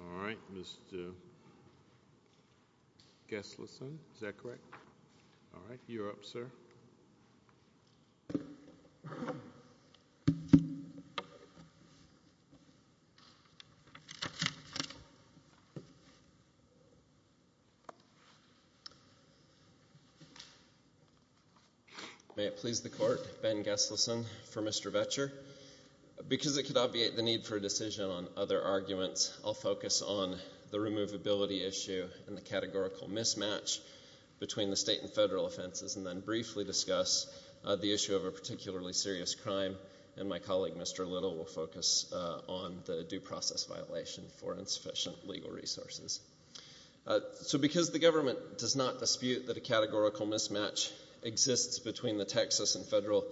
All right, Mr. Geselson, is that correct? All right, you're up, sir. May it please the court, Ben Geselson for Mr. Vetcher. Because it could obviate the need for a decision on other arguments, I'll focus on the removability issue and the categorical mismatch between the state and federal offenses, and then briefly discuss the issue of a particularly serious crime. And my colleague, Mr. Little, will focus on the due process violation for insufficient legal resources. So because the government does not dispute that a categorical mismatch exists between the Texas and federal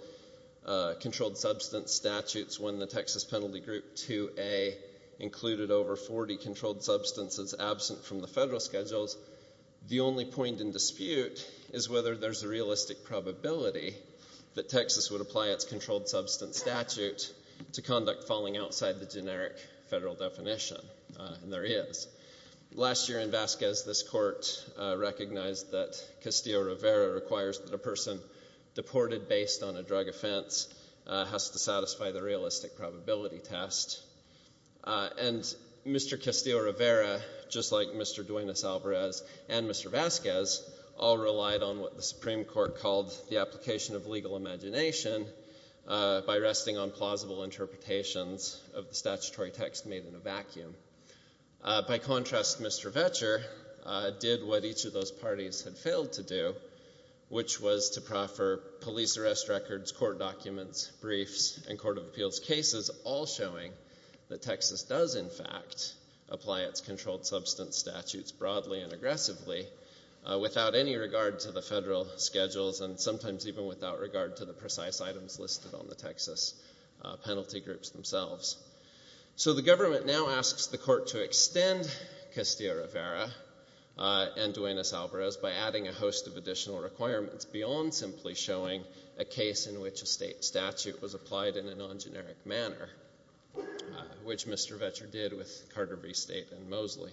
controlled substance statutes when the Texas The only point in dispute is whether there's a realistic probability that Texas would apply its controlled substance statute to conduct falling outside the generic federal definition, and there is. Last year in Vasquez, this court recognized that Castillo-Rivera requires that a person deported based on a drug offense has to satisfy the realistic probability test. And Mr. Castillo-Rivera, just like Mr. Duenas-Alvarez and Mr. Vasquez, all relied on what the Supreme Court called the application of legal imagination by resting on plausible interpretations of the statutory text made in a vacuum. By contrast, Mr. Vetcher did what each of those parties had failed to do, which was to proffer police arrest records, court documents, briefs, and court of that Texas does, in fact, apply its controlled substance statutes broadly and aggressively without any regard to the federal schedules and sometimes even without regard to the precise items listed on the Texas penalty groups themselves. So the government now asks the court to extend Castillo-Rivera and Duenas-Alvarez by adding a host of additional requirements beyond simply showing a case in which a state statute was applied in a non-generic manner, which Mr. Vetcher did with Carter v. State and Mosley.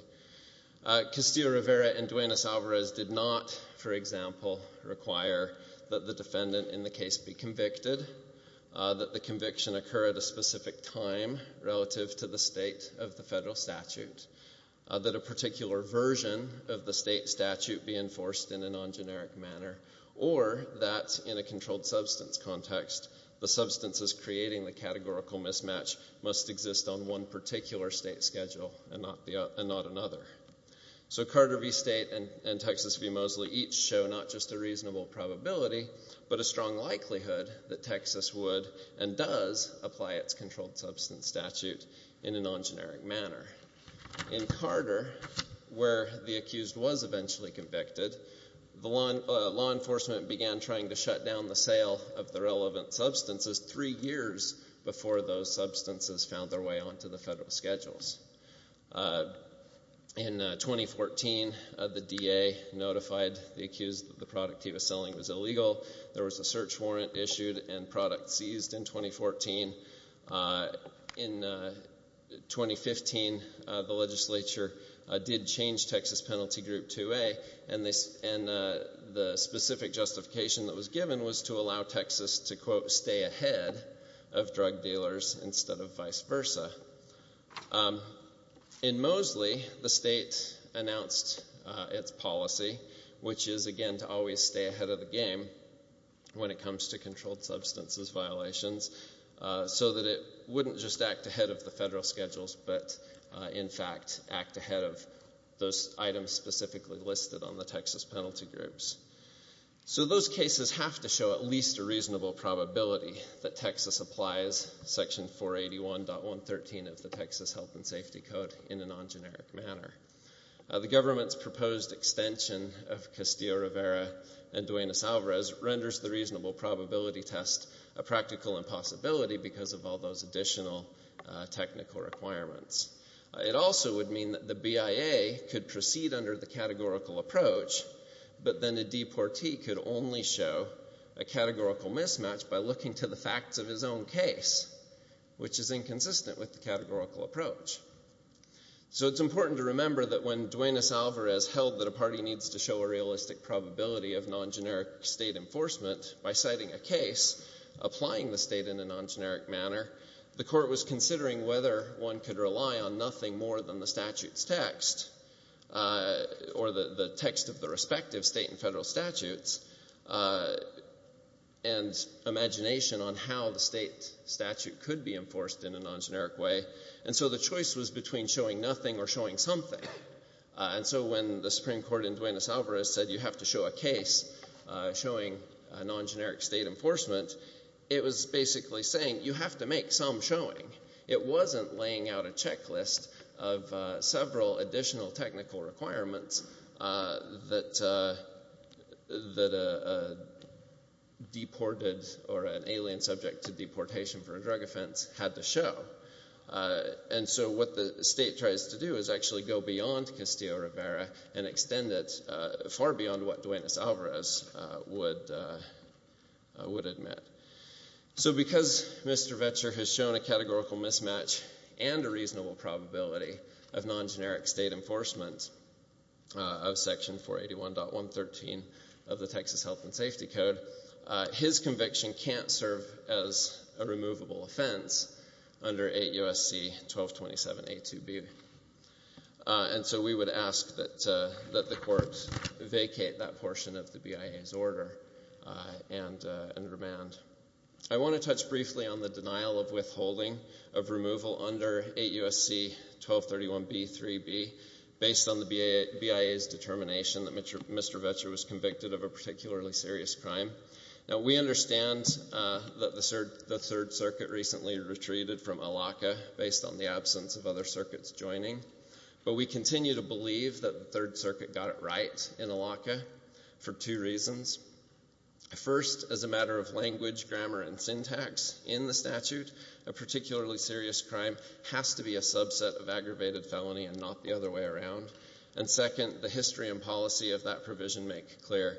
Castillo-Rivera and Duenas-Alvarez did not, for example, require that the defendant in the case be convicted, that the conviction occur at a specific time relative to the state of the federal statute, that a particular version of controlled substance context, the substances creating the categorical mismatch must exist on one particular state schedule and not another. So Carter v. State and Texas v. Mosley each show not just a reasonable probability, but a strong likelihood that Texas would and does apply its controlled substance statute in a non-generic manner. In Carter, where the accused was eventually convicted, the law enforcement began trying to shut down the sale of the relevant substances three years before those substances found their way onto the federal schedules. In 2014, the DA notified the accused that the product he was selling was illegal. There was a search warrant issued and products seized in 2014. In 2015, the legislature did change penalty group 2A and the specific justification that was given was to allow Texas to, quote, stay ahead of drug dealers instead of vice versa. In Mosley, the state announced its policy, which is, again, to always stay ahead of the game when it comes to controlled substances violations, so that it wouldn't just act ahead of the federal schedules, but in fact act ahead of those items specifically listed on the Texas penalty groups. So those cases have to show at least a reasonable probability that Texas applies Section 481.113 of the Texas Health and Safety Code in a non-generic manner. The government's proposed extension of Castillo-Rivera and Duenas-Alvarez renders the reasonable probability test a practical impossibility because of all those additional technical requirements. It also would mean that the BIA could proceed under the categorical approach, but then a deportee could only show a categorical mismatch by looking to the facts of his own case, which is inconsistent with the categorical approach. So it's important to remember that when Duenas-Alvarez held that a party needs to show a realistic probability of non-generic state enforcement by citing a case, applying the state in a non-generic manner, the court was considering whether one could rely on nothing more than the statute's text, or the text of the respective state and federal statutes, and imagination on how the state statute could be enforced in a non-generic way. And so the choice was between showing nothing or showing something. And so when the Supreme Court in Duenas-Alvarez said you have to show a case showing a non-generic state enforcement, it was basically saying you have to make some showing. It wasn't laying out a checklist of several additional technical requirements that a deported or an alien subject to deportation for a drug offense had to show. And so what the state tries to do is actually go beyond Castillo-Rivera and extend it far beyond what Duenas-Alvarez would admit. So because Mr. Vecher has shown a categorical mismatch and a reasonable probability of non-generic state enforcement of Section 481.113 of the Texas Health and Safety Code, his conviction can't serve as a removable that the courts vacate that portion of the BIA's order and remand. I want to touch briefly on the denial of withholding of removal under 8 U.S.C. 1231B.3.B. based on the BIA's determination that Mr. Vecher was convicted of a particularly serious crime. Now we understand that the Third Circuit recently retreated from ALACA based on the absence of other circuits joining, but we continue to believe that the Third Circuit got it right in ALACA for two reasons. First, as a matter of language, grammar, and syntax in the statute, a particularly serious crime has to be a subset of aggravated felony and not the other way around. And second, the history and policy of that provision make clear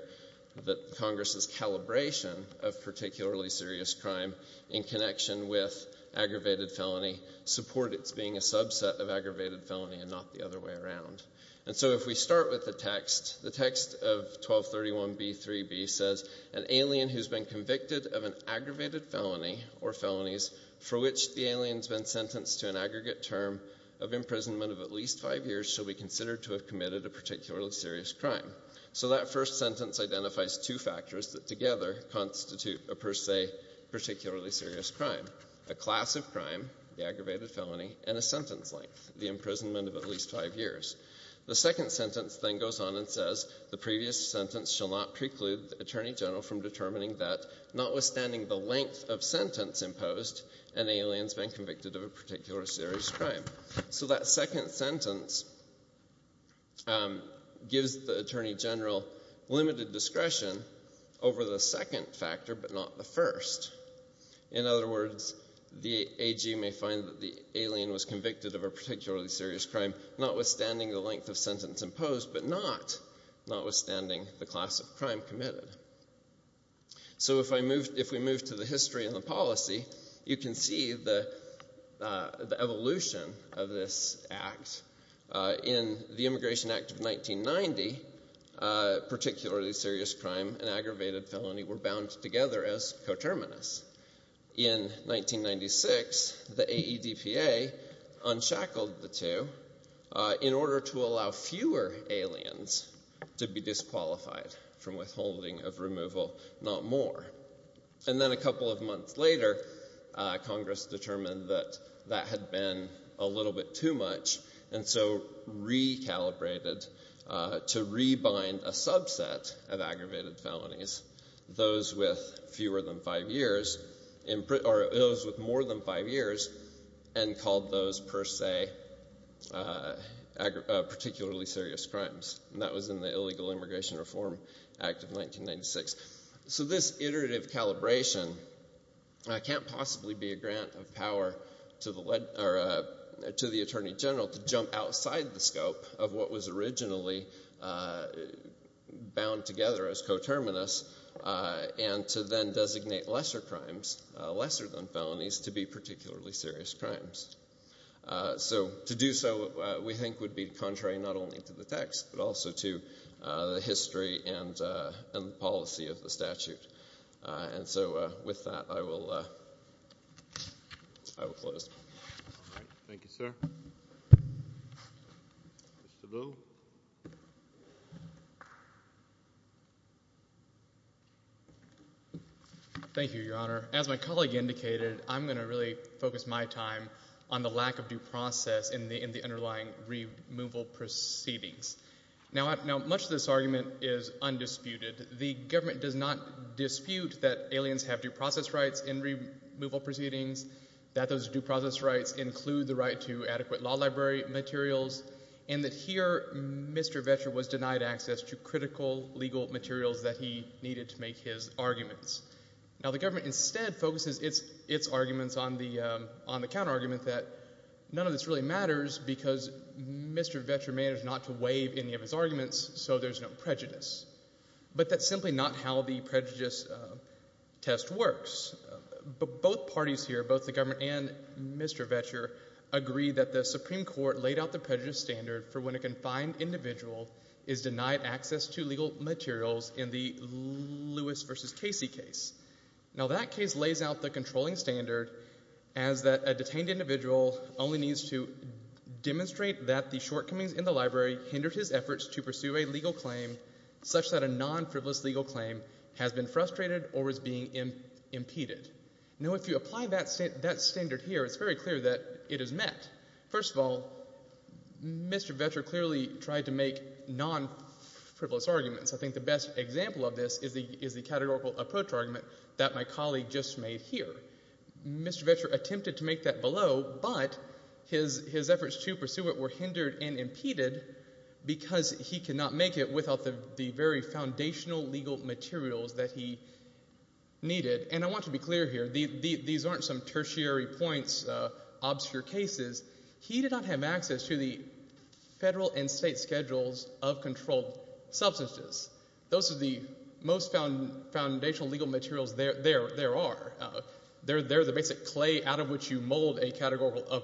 that Congress's calibration of particularly serious crime in connection with aggravated felony support its being a subset of aggravated felony and not the other way around. And so if we start with the text, the text of 1231B.3.B. says an alien who's been convicted of an aggravated felony or felonies for which the alien's been sentenced to an aggregate term of imprisonment of at least five years shall be considered to have committed a particularly serious crime. So that first sentence identifies two factors that together constitute a per se particularly serious crime. A class of aggravated felony or felonies for which the alien's been convicted of an aggravated felony or felonies for which the alien's been sentenced to an aggregate term of imprisonment of at least five years. The second sentence then goes on and says the previous sentence shall not preclude the Attorney General from determining that notwithstanding the length of sentence imposed an alien's been convicted of a particular serious crime. So that second sentence gives the Attorney General limited discretion over the second factor but not the first. In other words, a class of aggravated felony or felonies for which the alien's been convicted of a particularly serious crime notwithstanding the length of sentence imposed but not, notwithstanding the class of crime committed. So if I move, if we move to the history and the policy, you can see the evolution of this act. In the Immigration Act of 1990, particularly serious crime and aggravated felony were bound together as coterminous. In 1996, the AEDPA unshackled the two in order to allow fewer aliens to be disqualified from withholding of removal, not more. And then a couple of months later, Congress determined that that had been a little bit too much and so recalibrated to rebind a subset of aggravated felonies, those with fewer than five years, or those with more than five years, and called those per se particularly serious crimes. And that was in the Illegal Immigration Reform Act of 1996. So this iterative calibration can't possibly be a grant of power to the Attorney General to jump outside the scope of what was originally bound together as coterminous and to then designate lesser crimes, lesser than felonies, to be particularly serious crimes. So to do so, we think, would be contrary not only to the text but also to the history and the policy of the statute. And so with that, I will close. Thank you, sir. Mr. Boo? Thank you, Your Honor. As my colleague indicated, I'm going to really focus my time on the lack of due process in the underlying removal proceedings. Now, much of this argument is undisputed. The government does not dispute that aliens have due process rights in removal proceedings, that those due process rights include the right to adequate law library materials, and that here, Mr. Vecher was denied access to critical legal materials that he needed to make his arguments. Now, the government instead focuses its arguments on the counterargument that none of this really matters because Mr. Vecher managed not to waive any of his arguments, so there's no prejudice. But that's simply not how the prejudice test works. Both parties here, both the government and Mr. Vecher, agree that the Supreme Court laid out the prejudice standard for when a confined individual is denied access to legal materials in the Lewis v. Casey case. Now, that case lays out the controlling standard as that a detained individual only needs to demonstrate that the shortcomings in the library hindered his efforts to pursue a legal claim such that a non-frivolous legal claim has been frustrated or is being impeded. Now, if you apply that standard here, it's very clear that it is that, first of all, Mr. Vecher clearly tried to make non-frivolous arguments. I think the best example of this is the categorical approach argument that my colleague just made here. Mr. Vecher attempted to make that below, but his efforts to pursue it were hindered and impeded because he could not make it without the very foundational legal materials that he needed. And I want to be clear here. These aren't some tertiary points, obscure cases. He did not have access to the federal and state schedules of controlled substances. Those are the most foundational legal materials there are. They're the basic clay out of which you mold a categorical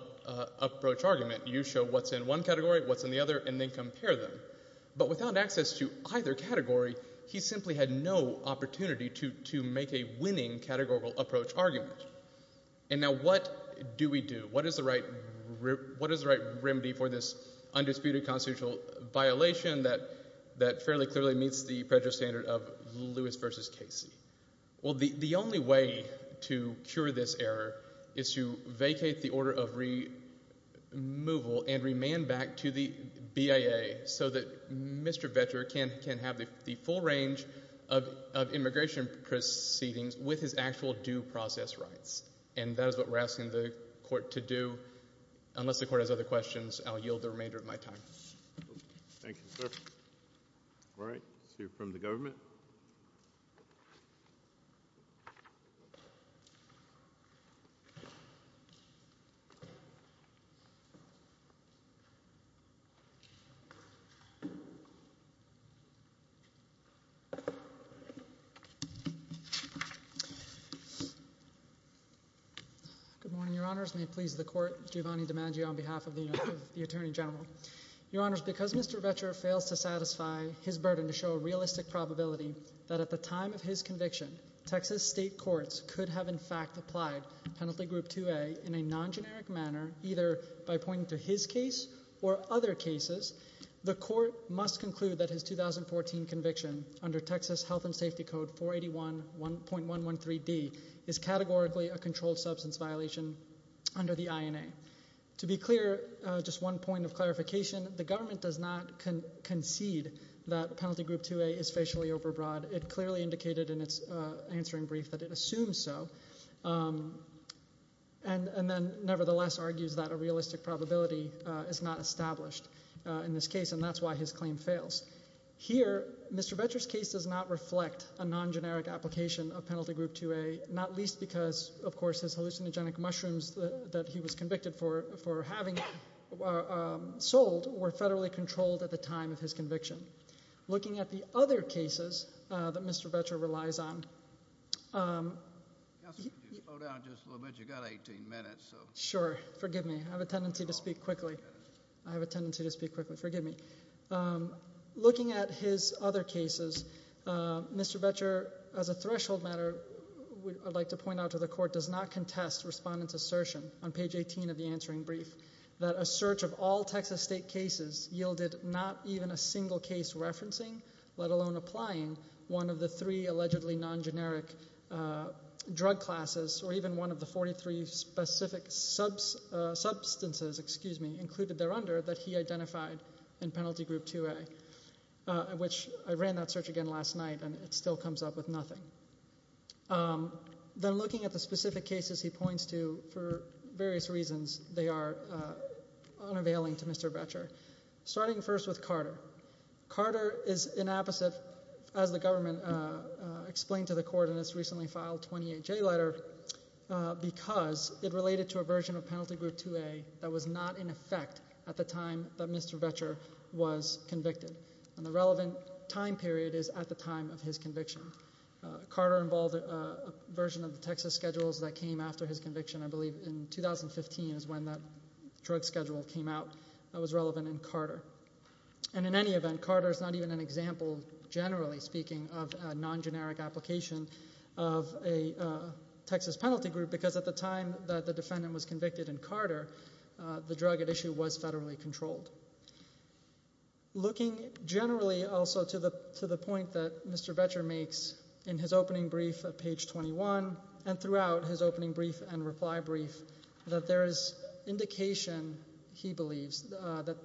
approach argument. You show what's in one category, what's in the other, and then compare them. But without access to either category, he simply had no opportunity to make a winning categorical approach argument. And now what do we do? What is the right remedy for this undisputed constitutional violation that fairly clearly meets the federal standard of Lewis v. Casey? Well, the only way to cure this error is to vacate the order of removal and remand back to the BIA so that Mr. Vecher can have the full range of immigration proceedings with his actual due process rights. And that is what we're asking the court to do. Unless the court has other questions, I'll yield the remainder of my time. Thank you, sir. All right. Let's hear from the government. Good morning, Your Honors. May it please the court, Giovanni DiMaggio on behalf of the Attorney General. Your Honors, because Mr. Vecher fails to satisfy his burden to show a realistic probability that at the time of his conviction, Texas state courts could have in fact applied Penalty Group 2A in a non-generic manner, either by pointing to his case or by other cases, the court must conclude that his 2014 conviction under Texas Health and Safety Code 481.113D is categorically a controlled substance violation under the INA. To be clear, just one point of clarification, the government does not concede that Penalty Group 2A is facially overbroad. It clearly indicated in its answering brief that it assumes so and then nevertheless argues that a realistic probability is not established in this case, and that's why his claim fails. Here, Mr. Vecher's case does not reflect a non-generic application of Penalty Group 2A, not least because, of course, his hallucinogenic mushrooms that he was convicted for having sold were federally controlled at the time of his conviction. Looking at the other cases that Mr. Vecher relies on... I'll slow down just a little bit. You've got 18 minutes, so... Sure. Forgive me. I have a tendency to speak quickly. I have a tendency to speak quickly. Forgive me. Looking at his other cases, Mr. Vecher, as a threshold matter, I'd like to point out to the court, does not contest Respondent's assertion on page 18 of the answering brief that a search of all Texas state cases yielded not even a single case referencing, let alone applying, one of the three allegedly non-generic drug classes, or even one of the 43 specific substances included thereunder that he identified in Penalty Group 2A, which I ran that search again last night, and it still comes up with nothing. Then looking at the specific cases he points to, for various reasons, they are unavailing to Mr. Vecher, starting first with Carter. Carter is inapposite, as the government explained to the court in its recently filed 28J letter, because it related to a version of Penalty Group 2A that was not in effect at the time that Mr. Vecher was convicted. The relevant time period is at the time of his conviction. Carter involved a version of the Texas schedules that came after his conviction, I believe in 2015 is when that drug schedule came out, that was relevant in Carter. In any event, Carter is not even an example, generally speaking, of a non-generic application of a Texas penalty group, because at the time that the defendant was convicted in Carter, the drug at issue was federally controlled. Looking generally also to the point that Mr. Vecher makes in his opening brief of page 21, and throughout his opening brief and reply brief, that there is indication, he believes, that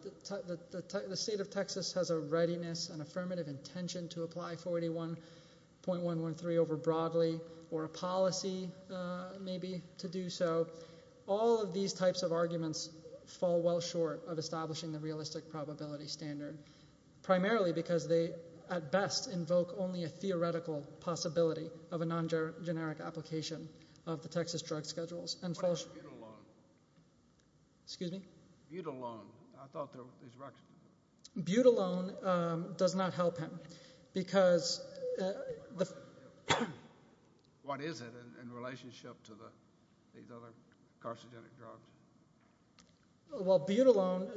the state of Texas has a readiness and affirmative intention to apply 41.113 over broadly, or a policy maybe to do so. All of these types of arguments fall well short of establishing the realistic probability standard, primarily because they at best invoke only a theoretical possibility of a non-generic application of the Texas drug schedules. What about Butylone? Butylone does not help him, because... What is it in relationship to these other carcinogenic drugs? Well, Butylone,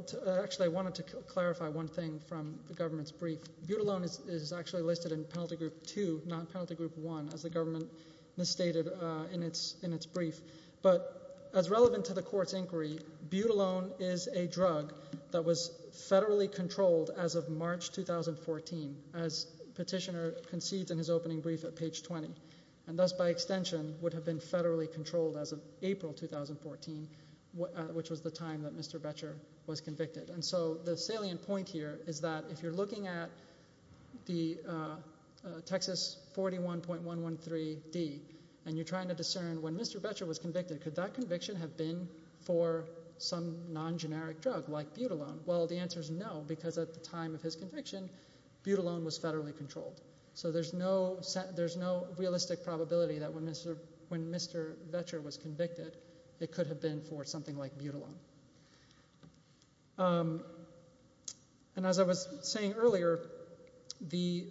actually I wanted to clarify one thing from the government's brief. Butylone is actually listed in Penalty Group 2, not Penalty Group 1, as the government misstated in its brief. But as relevant to the court's inquiry, Butylone is a drug that was federally controlled as of March 2014, as Petitioner concedes in his opening brief at page 20, and thus by extension would have been federally controlled as of April 2014, which was the time that Mr. Vecher was convicted. And so the salient point here is that if you're looking at the Texas 41.113D, and you're trying to discern when Mr. Vecher was convicted, could that conviction have been for some non-generic drug like Butylone? Well, the answer is no, because at the time of his conviction, Butylone was federally controlled. So there's no realistic probability that when Mr. Vecher was convicted, it could have been for something like Butylone. And as I was saying earlier, the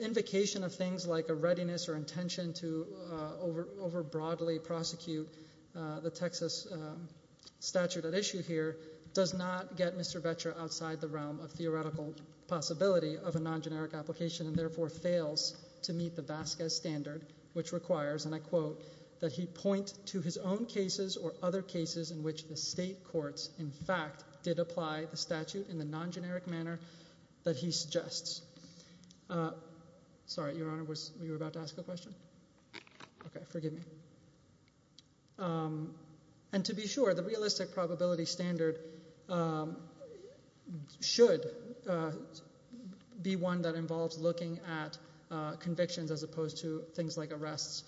invocation of things like a readiness or intention to over-broadly prosecute the Texas statute at issue here does not get Mr. Vecher outside the realm of theoretical possibility of a non-generic application, and therefore fails to meet the Vasquez standard, which requires, and I quote, that he point to his own cases or other cases in which the state courts in fact did apply the statute in the non-generic manner that he suggests. Sorry, Your Honor, you were about to ask a question? Okay, forgive me. And to be sure, the realistic probability standard should be one that involves looking at convictions as opposed to things like arrests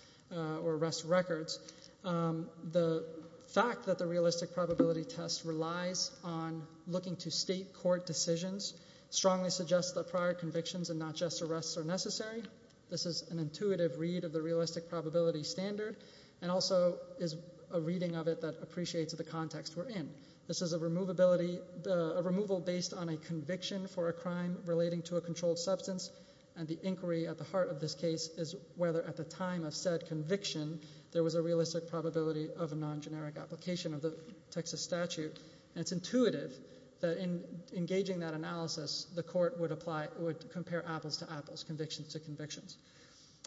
records. The fact that the realistic probability test relies on looking to state court decisions strongly suggests that prior convictions and not just arrests are necessary. This is an intuitive read of the realistic probability standard, and also is a reading of it that appreciates the context we're in. This is a removal based on a conviction for a crime relating to a controlled substance, and the inquiry at the heart of this case is whether at the time of said conviction there was a realistic probability of a non-generic application of the Texas statute. And it's intuitive that in engaging that analysis, the court would apply, would compare apples to apples, convictions to convictions.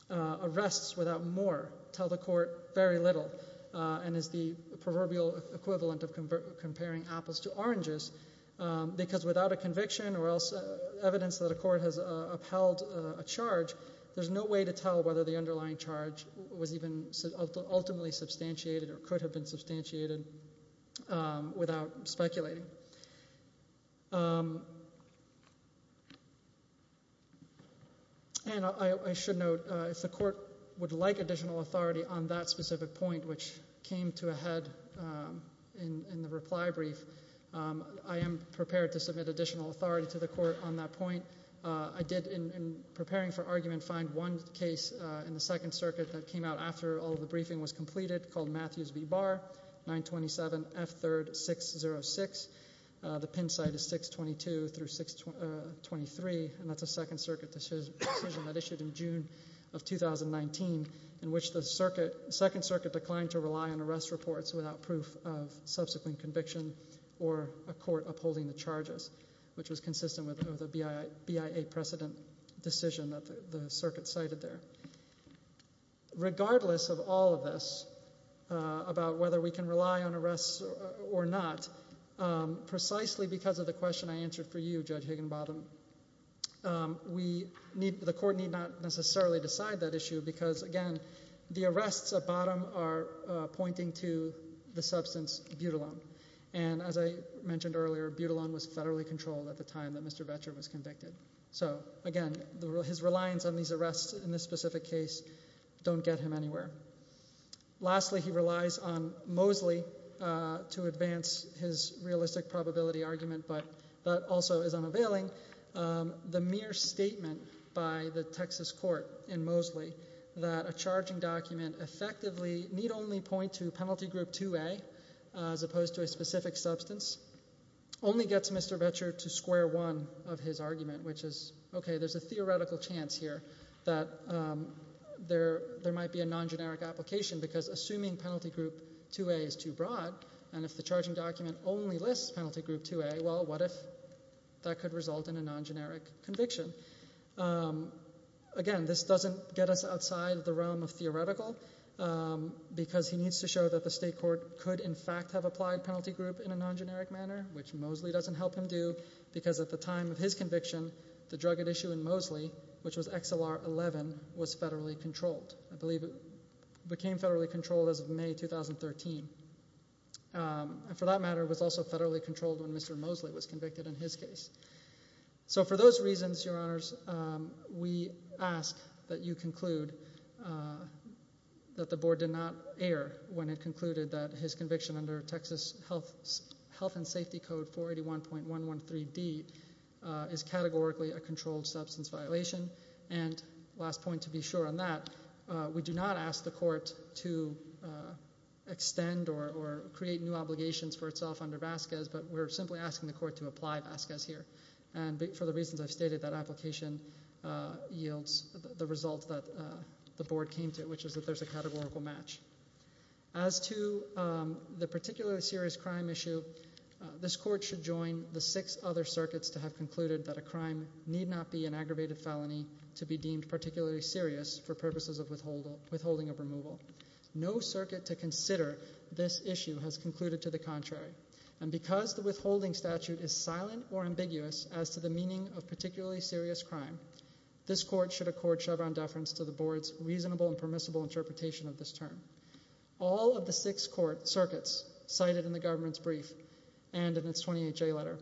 Arrests without more tell the court very little, and is the proverbial equivalent of comparing apples to oranges, because without a conviction or else evidence that a court has upheld a charge, there's no way to tell whether the underlying charge was even ultimately substantiated or could have been substantiated without speculating. And I should note, if the court would like additional authority on that specific point, which came to a head in the reply brief, I am prepared to submit additional authority to the court on that point. I did in preparing for argument find one case in the Second Circuit that came out after all of the briefing was completed called Matthews v. Barr, 927F3RD606. The pin site is 622-623, and that's a Second Circuit decision that issued in June of 2019, in which the Second Circuit declined to rely on arrest reports without proof of subsequent conviction or a court upholding the charges, which was consistent with the BIA precedent decision that the Circuit cited there. Regardless of all of this about whether we can rely on arrests or not, precisely because of the question I answered for you, Judge Higginbottom, the court need not necessarily decide that issue, because again, the arrests at bottom are pointing to the substance butylone. And as I mentioned earlier, butylone was federally controlled at the time that Mr. Vetcher was convicted. So again, his reliance on these arrests in this specific case don't get him anywhere. Lastly, he relies on Mosley to advance his realistic probability argument, but that also is unavailing. The mere statement by the Texas court in Mosley that a charging document effectively need only point to Penalty Group 2A, as opposed to a specific substance, only gets Mr. Vetcher to square one of his argument, which is, okay, there's a theoretical chance here that there might be a non-generic application, because assuming Penalty Group 2A is too broad, and if the charging document only lists Penalty Group 2A, well, what if that could result in a non-generic conviction? Again, this doesn't get us outside of the realm of theoretical. Because he needs to show that the state court could, in fact, have applied Penalty Group in a non-generic manner, which Mosley doesn't help him do, because at the time of his conviction, the drug at issue in Mosley, which was XLR11, was federally controlled. I believe it became federally controlled as of May 2013. And for that matter, it was also federally controlled when Mr. Mosley was convicted in his case. So for those reasons, Your Honors, we ask that you conclude that the board did not err when it concluded that his conviction under Texas Health and Safety Code 481.113D is categorically a controlled substance violation. And last point to be sure on that, we do not ask the court to extend or create new obligations for itself under Vasquez, but we're simply asking the court to apply Vasquez here. And for the reasons I've stated, that application yields the result that the board came to, which is that there's a categorical match. As to the particularly serious crime issue, this court should join the six other circuits to have concluded that a crime need not be an aggravated felony to be deemed particularly serious for purposes of withholding of removal. No circuit to consider this issue has concluded to the contrary. And because the withholding of removal statute is silent or ambiguous as to the meaning of particularly serious crime, this court should accord Chevron deference to the board's reasonable and permissible interpretation of this term. All of the six circuits cited in the government's brief and in its 28J letter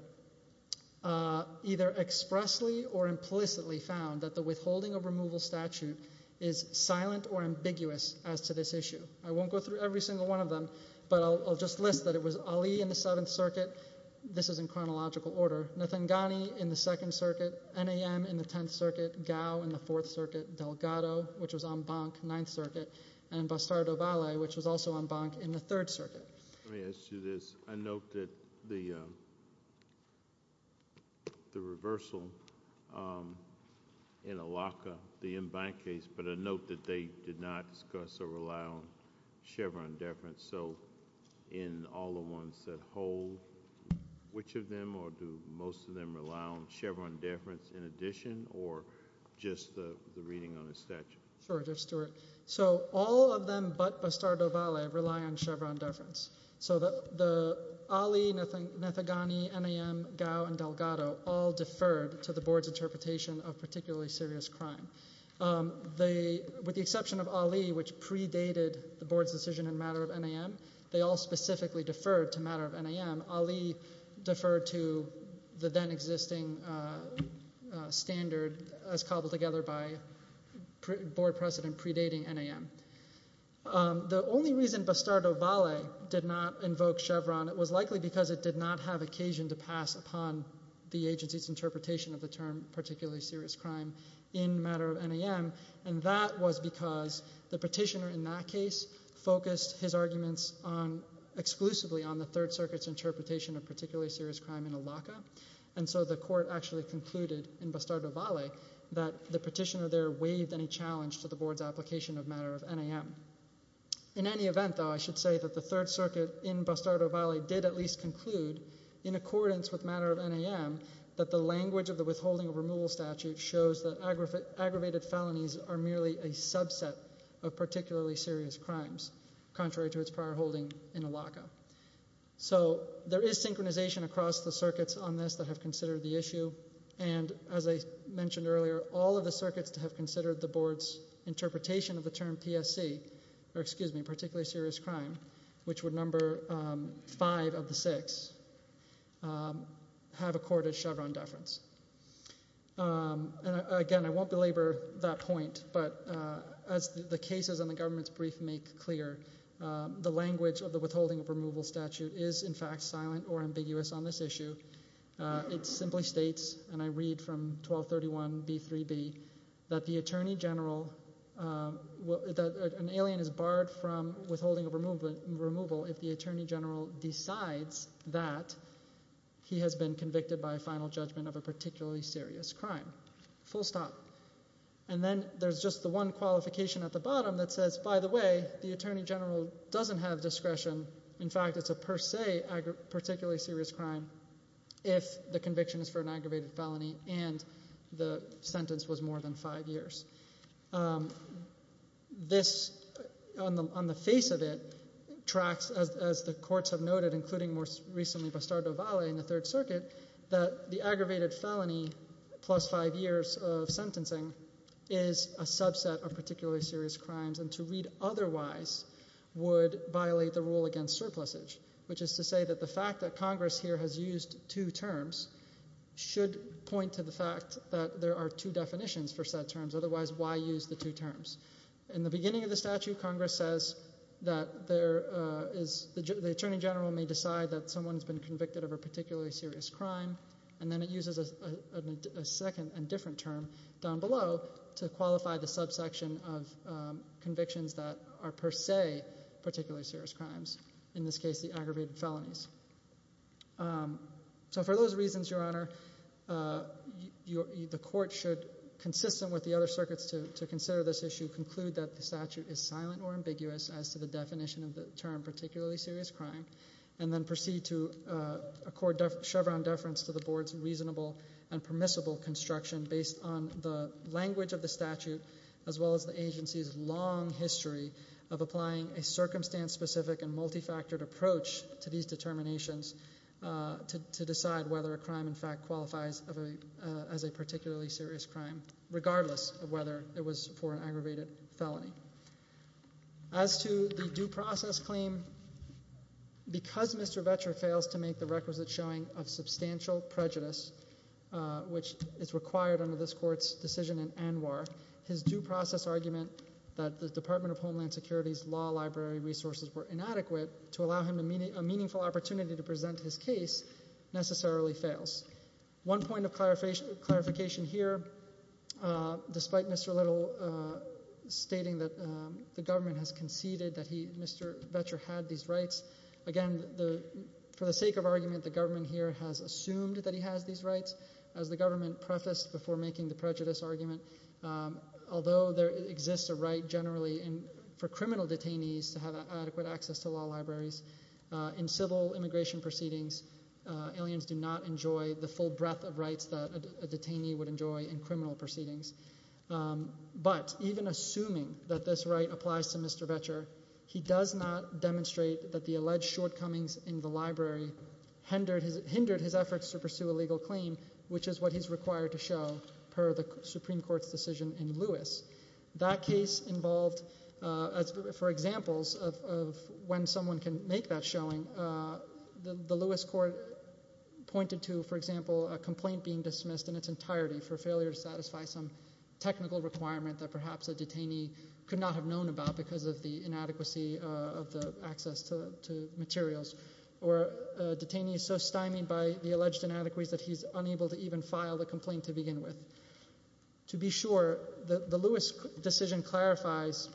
either expressly or implicitly found that the withholding of removal statute is silent or ambiguous as to this issue. I won't go through every single one of them, but I'll just list that it was Ali in the Seventh Circuit. This is in chronological order. Nathangani in the Second Circuit. NAM in the Tenth Circuit. Gao in the Fourth Circuit. Delgado, which was en banc, Ninth Circuit. And Bastardo-Ballet, which was also en banc in the Third Circuit. Let me ask you this. I note that the reversal in Alaca, the en banc case, but I note that they did not discuss or rely on Chevron deference. So in all the ones that hold, which of them or do most of them rely on Chevron deference in addition or just the reading on the statute? So all of them but Bastardo-Ballet rely on Chevron deference. So Ali, Nathangani, NAM, Gao, and Delgado all deferred to the board's interpretation of particularly serious crime. With the exception of Ali, which predated the board's decision in matter of NAM, they all specifically deferred to matter of NAM. Ali deferred to the then existing standard as cobbled together by board precedent predating NAM. The only reason Bastardo-Ballet did not invoke Chevron, it was likely because it did not have occasion to pass upon the agency's interpretation of the term particularly serious crime in matter of NAM, and that was because the petitioner in that case focused his arguments exclusively on the Third Circuit's interpretation of particularly serious crime in Alaca, and so the court actually concluded in Bastardo-Ballet that the petitioner there waived any challenge to the board's application of matter of NAM. In any event, though, I should say that the Third Circuit in Bastardo-Ballet did at least conclude in accordance with matter of NAM that the language of the withholding of removal statute shows that aggravated felonies are merely a subset of particularly serious crimes, contrary to its prior holding in Alaca. So there is synchronization across the circuits on this that have considered the issue, and as I mentioned earlier, all of the circuits that have considered the board's interpretation of the term PSC, or excuse me, particularly serious crime, which would number five of the six, have accorded Chevron deference. And again, I won't belabor that point, but as the cases in the government's brief make clear, the language of the withholding of removal statute is in fact silent or ambiguous on this issue. It simply states, and I read from 1231b3b, that the attorney general, that an alien is that he has been convicted by a final judgment of a particularly serious crime. Full stop. And then there's just the one qualification at the bottom that says, by the way, the attorney general doesn't have discretion, in fact, it's a per se particularly serious crime if the conviction is for an aggravated felony and the sentence was more than five years. This, on the face of it, tracks, as the courts have noted, including more recently Bastardo Valle in the Third Circuit, that the aggravated felony plus five years of sentencing is a subset of particularly serious crimes, and to read otherwise would violate the rule against surplusage, which is to say that the fact that Congress here has used two terms should point to the fact that there are two definitions for said terms, otherwise why use the two terms? In the beginning of the statute, Congress says that the attorney general may decide that someone's been convicted of a particularly serious crime, and then it uses a second and different term down below to qualify the subsection of convictions that are per se particularly serious crimes, in this case the aggravated felonies. So for those reasons, Your Honor, the court should, consistent with the other circuits to consider this issue, conclude that the statute is silent or ambiguous as to the definition of the term particularly serious crime, and then proceed to accord Chevron deference to the board's reasonable and permissible construction based on the language of the statute as well as the agency's long history of applying a circumstance-specific and multifactored approach to these determinations to decide whether a crime in fact qualifies as a particularly serious crime, regardless of whether it was for an aggravated felony. As to the due process claim, because Mr. Vetcher fails to make the requisite showing of substantial prejudice, which is required under this court's decision in ANWR, his due process argument that the Department of Homeland Security's law library resources were inadequate to allow him a meaningful opportunity to present his case necessarily fails. One point of clarification here, despite Mr. Little stating that the government has conceded that Mr. Vetcher had these rights, again, for the sake of argument, the government here has assumed that he has these rights, as the government prefaced before making the prejudice argument, although there exists a right generally for criminal detainees to have adequate access to law libraries, in civil immigration proceedings, aliens do not enjoy the full breadth of rights that a detainee would enjoy in criminal proceedings, but even assuming that this right applies to Mr. Vetcher, he does not demonstrate that the alleged shortcomings in the library hindered his efforts to pursue a legal claim, which is what he's required to show per the Supreme Court's decision in Lewis. That case involved, for examples of when someone can make that showing, the Lewis court pointed to, for example, a complaint being dismissed in its entirety for failure to satisfy some technical requirement that perhaps a detainee could not have known about because of the inadequacy of the access to materials, or a detainee is so stymied by the alleged inadequacies that he's unable to even file the complaint to begin with. To be sure, the Lewis decision clarifies,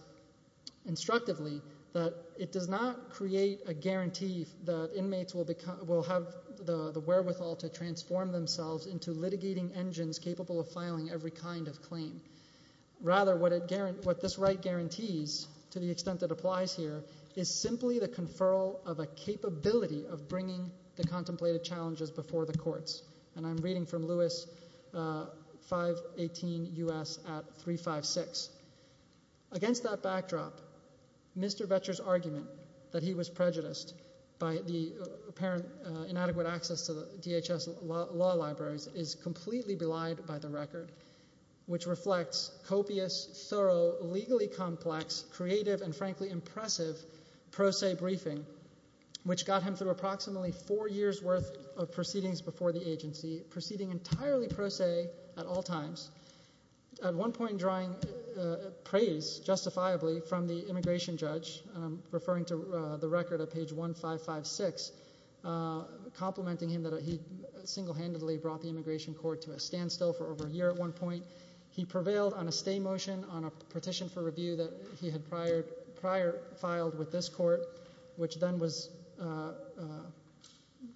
instructively, that it does not create a guarantee that inmates will have the wherewithal to transform themselves into litigating engines capable of filing every kind of claim, rather what this right guarantees, to the extent that applies here, is simply the conferral of a capability of bringing the contemplated challenges before the courts, and I'm reading from Lewis 518 U.S. at 356. Against that backdrop, Mr. Vetcher's argument that he was prejudiced by the apparent inadequate access to the DHS law libraries is completely belied by the record, which reflects copious, thorough, legally complex, creative, and frankly impressive pro se briefing, which got him through approximately four years' worth of proceedings before the agency, proceeding entirely pro se at all times, at one point drawing praise, justifiably, from the immigration judge, and I'm referring to the record at page 1556, complimenting him that he single-handedly brought the immigration court to a standstill for over a year at one point. He prevailed on a stay motion on a petition for review that he had prior filed with this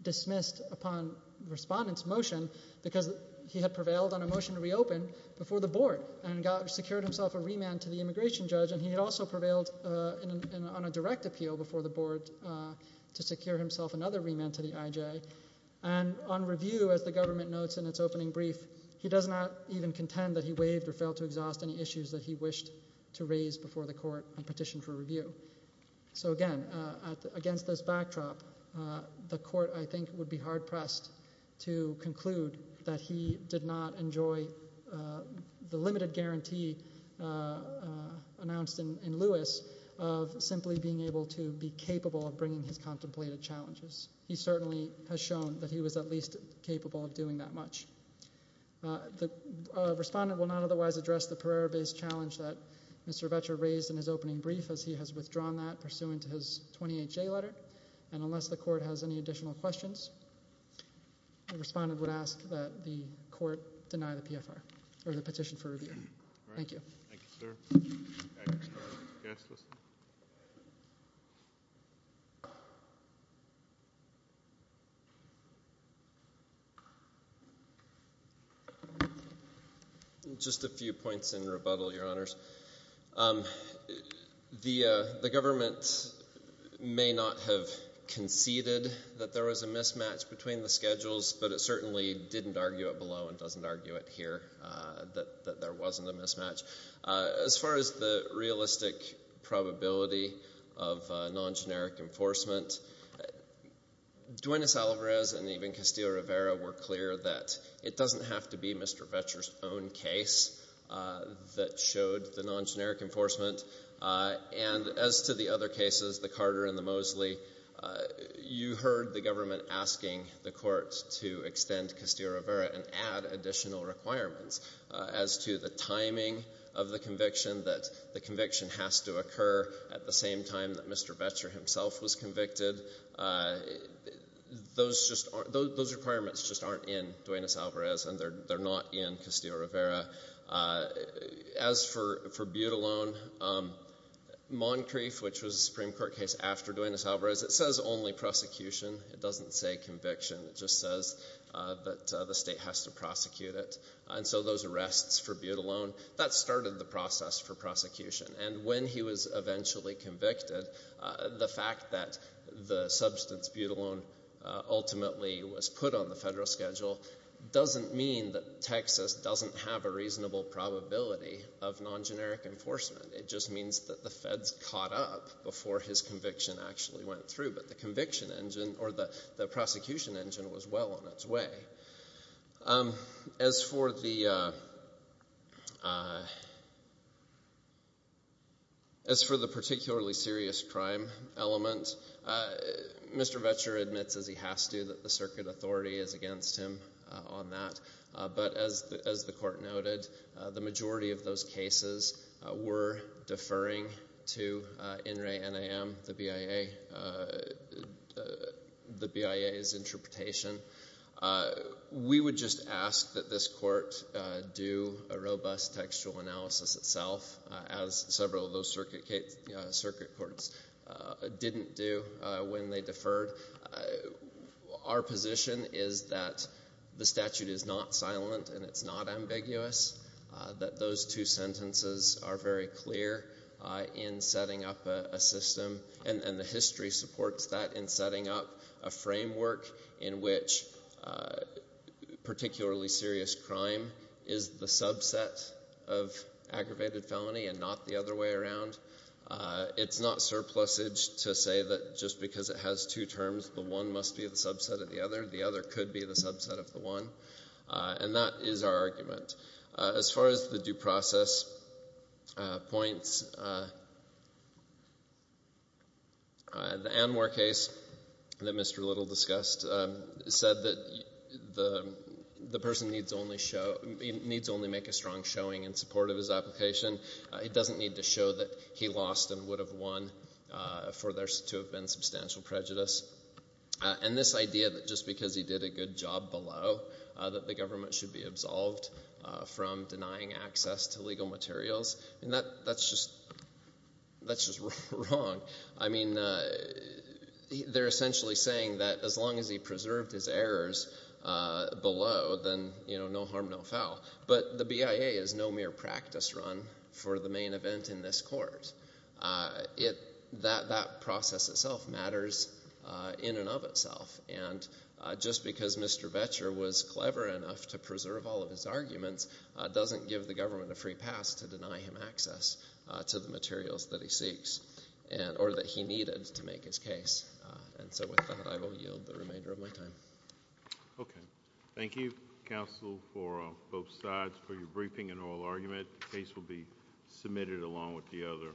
dismissed upon respondent's motion, because he had prevailed on a motion to reopen before the board, and secured himself a remand to the immigration judge, and he had also prevailed on a direct appeal before the board to secure himself another remand to the IJ, and on review, as the government notes in its opening brief, he does not even contend that he waived or failed to exhaust any issues that he wished to raise before the court on petition for review. So again, against this backdrop, the court, I think, would be hard-pressed to conclude that he did not enjoy the limited guarantee announced in Lewis of simply being able to be capable of bringing his contemplated challenges. He certainly has shown that he was at least capable of doing that much. The respondent will not otherwise address the Pereira-based challenge that Mr. Vecher raised in his opening brief, as he has withdrawn that pursuant to his 28-J letter, and unless the court has any additional questions, the respondent would ask that the court deny the PFR, or the petition for review. Thank you. Thank you, sir. Next, our guest. Just a few points in rebuttal, Your Honors. The government may not have conceded that there was a mismatch between the schedules, but it certainly didn't argue it below and doesn't argue it here, that there wasn't a mismatch. As far as the realistic probability of non-generic enforcement, Duenas-Alvarez and even Castillo-Rivera were clear that it doesn't have to be Mr. Vecher's own case that showed the non-generic enforcement, and as to the other cases, the Carter and the Mosley, you heard the government asking the court to extend Castillo-Rivera and add additional requirements. As to the timing of the conviction, that the conviction has to occur at the same time that Mr. Vecher himself was convicted, those requirements just aren't in Duenas-Alvarez, and they're not in Castillo-Rivera. As for Butelon, Moncrief, which was a Supreme Court case after Duenas-Alvarez, it says only prosecution. It doesn't say conviction. It just says that the state has to prosecute it, and so those arrests for Butelon, that started the process for prosecution, and when he was eventually convicted, the fact that the substance, Butelon, ultimately was put on the federal schedule doesn't mean that Texas doesn't have a reasonable probability of non-generic enforcement. It just means that the feds caught up before his conviction actually went through, but the conviction engine, or the prosecution engine, was well on its way. As for the particularly serious crime element, Mr. Vecher admits, as he has to, that the circuit authority is against him on that, but as the court noted, the majority of those the BIA's interpretation, we would just ask that this court do a robust textual analysis itself, as several of those circuit courts didn't do when they deferred. Our position is that the statute is not silent, and it's not ambiguous, that those two sentences are very clear in setting up a system, and the history supports that in setting up a framework in which particularly serious crime is the subset of aggravated felony and not the other way around. It's not surplusage to say that just because it has two terms, the one must be the subset of the other, the other could be the subset of the one, and that is our argument. As far as the due process points, the Anwar case that Mr. Little discussed said that the person needs only make a strong showing in support of his application, it doesn't need to show that he lost and would have won for there to have been substantial prejudice, and this idea that just because he did a good job below, that the government should be absolved from denying access to legal materials, that's just wrong, I mean, they're essentially saying that as long as he preserved his errors below, then no harm, no foul, but the BIA is no mere practice run for the main event in this court. That process itself matters in and of itself, and just because Mr. Boettcher was clever enough to preserve all of his arguments doesn't give the government a free pass to deny him access to the materials that he seeks, or that he needed to make his case, and so with that I will yield the remainder of my time. Thank you, counsel, for both sides for your briefing and oral argument, the case will be submitted along with the other.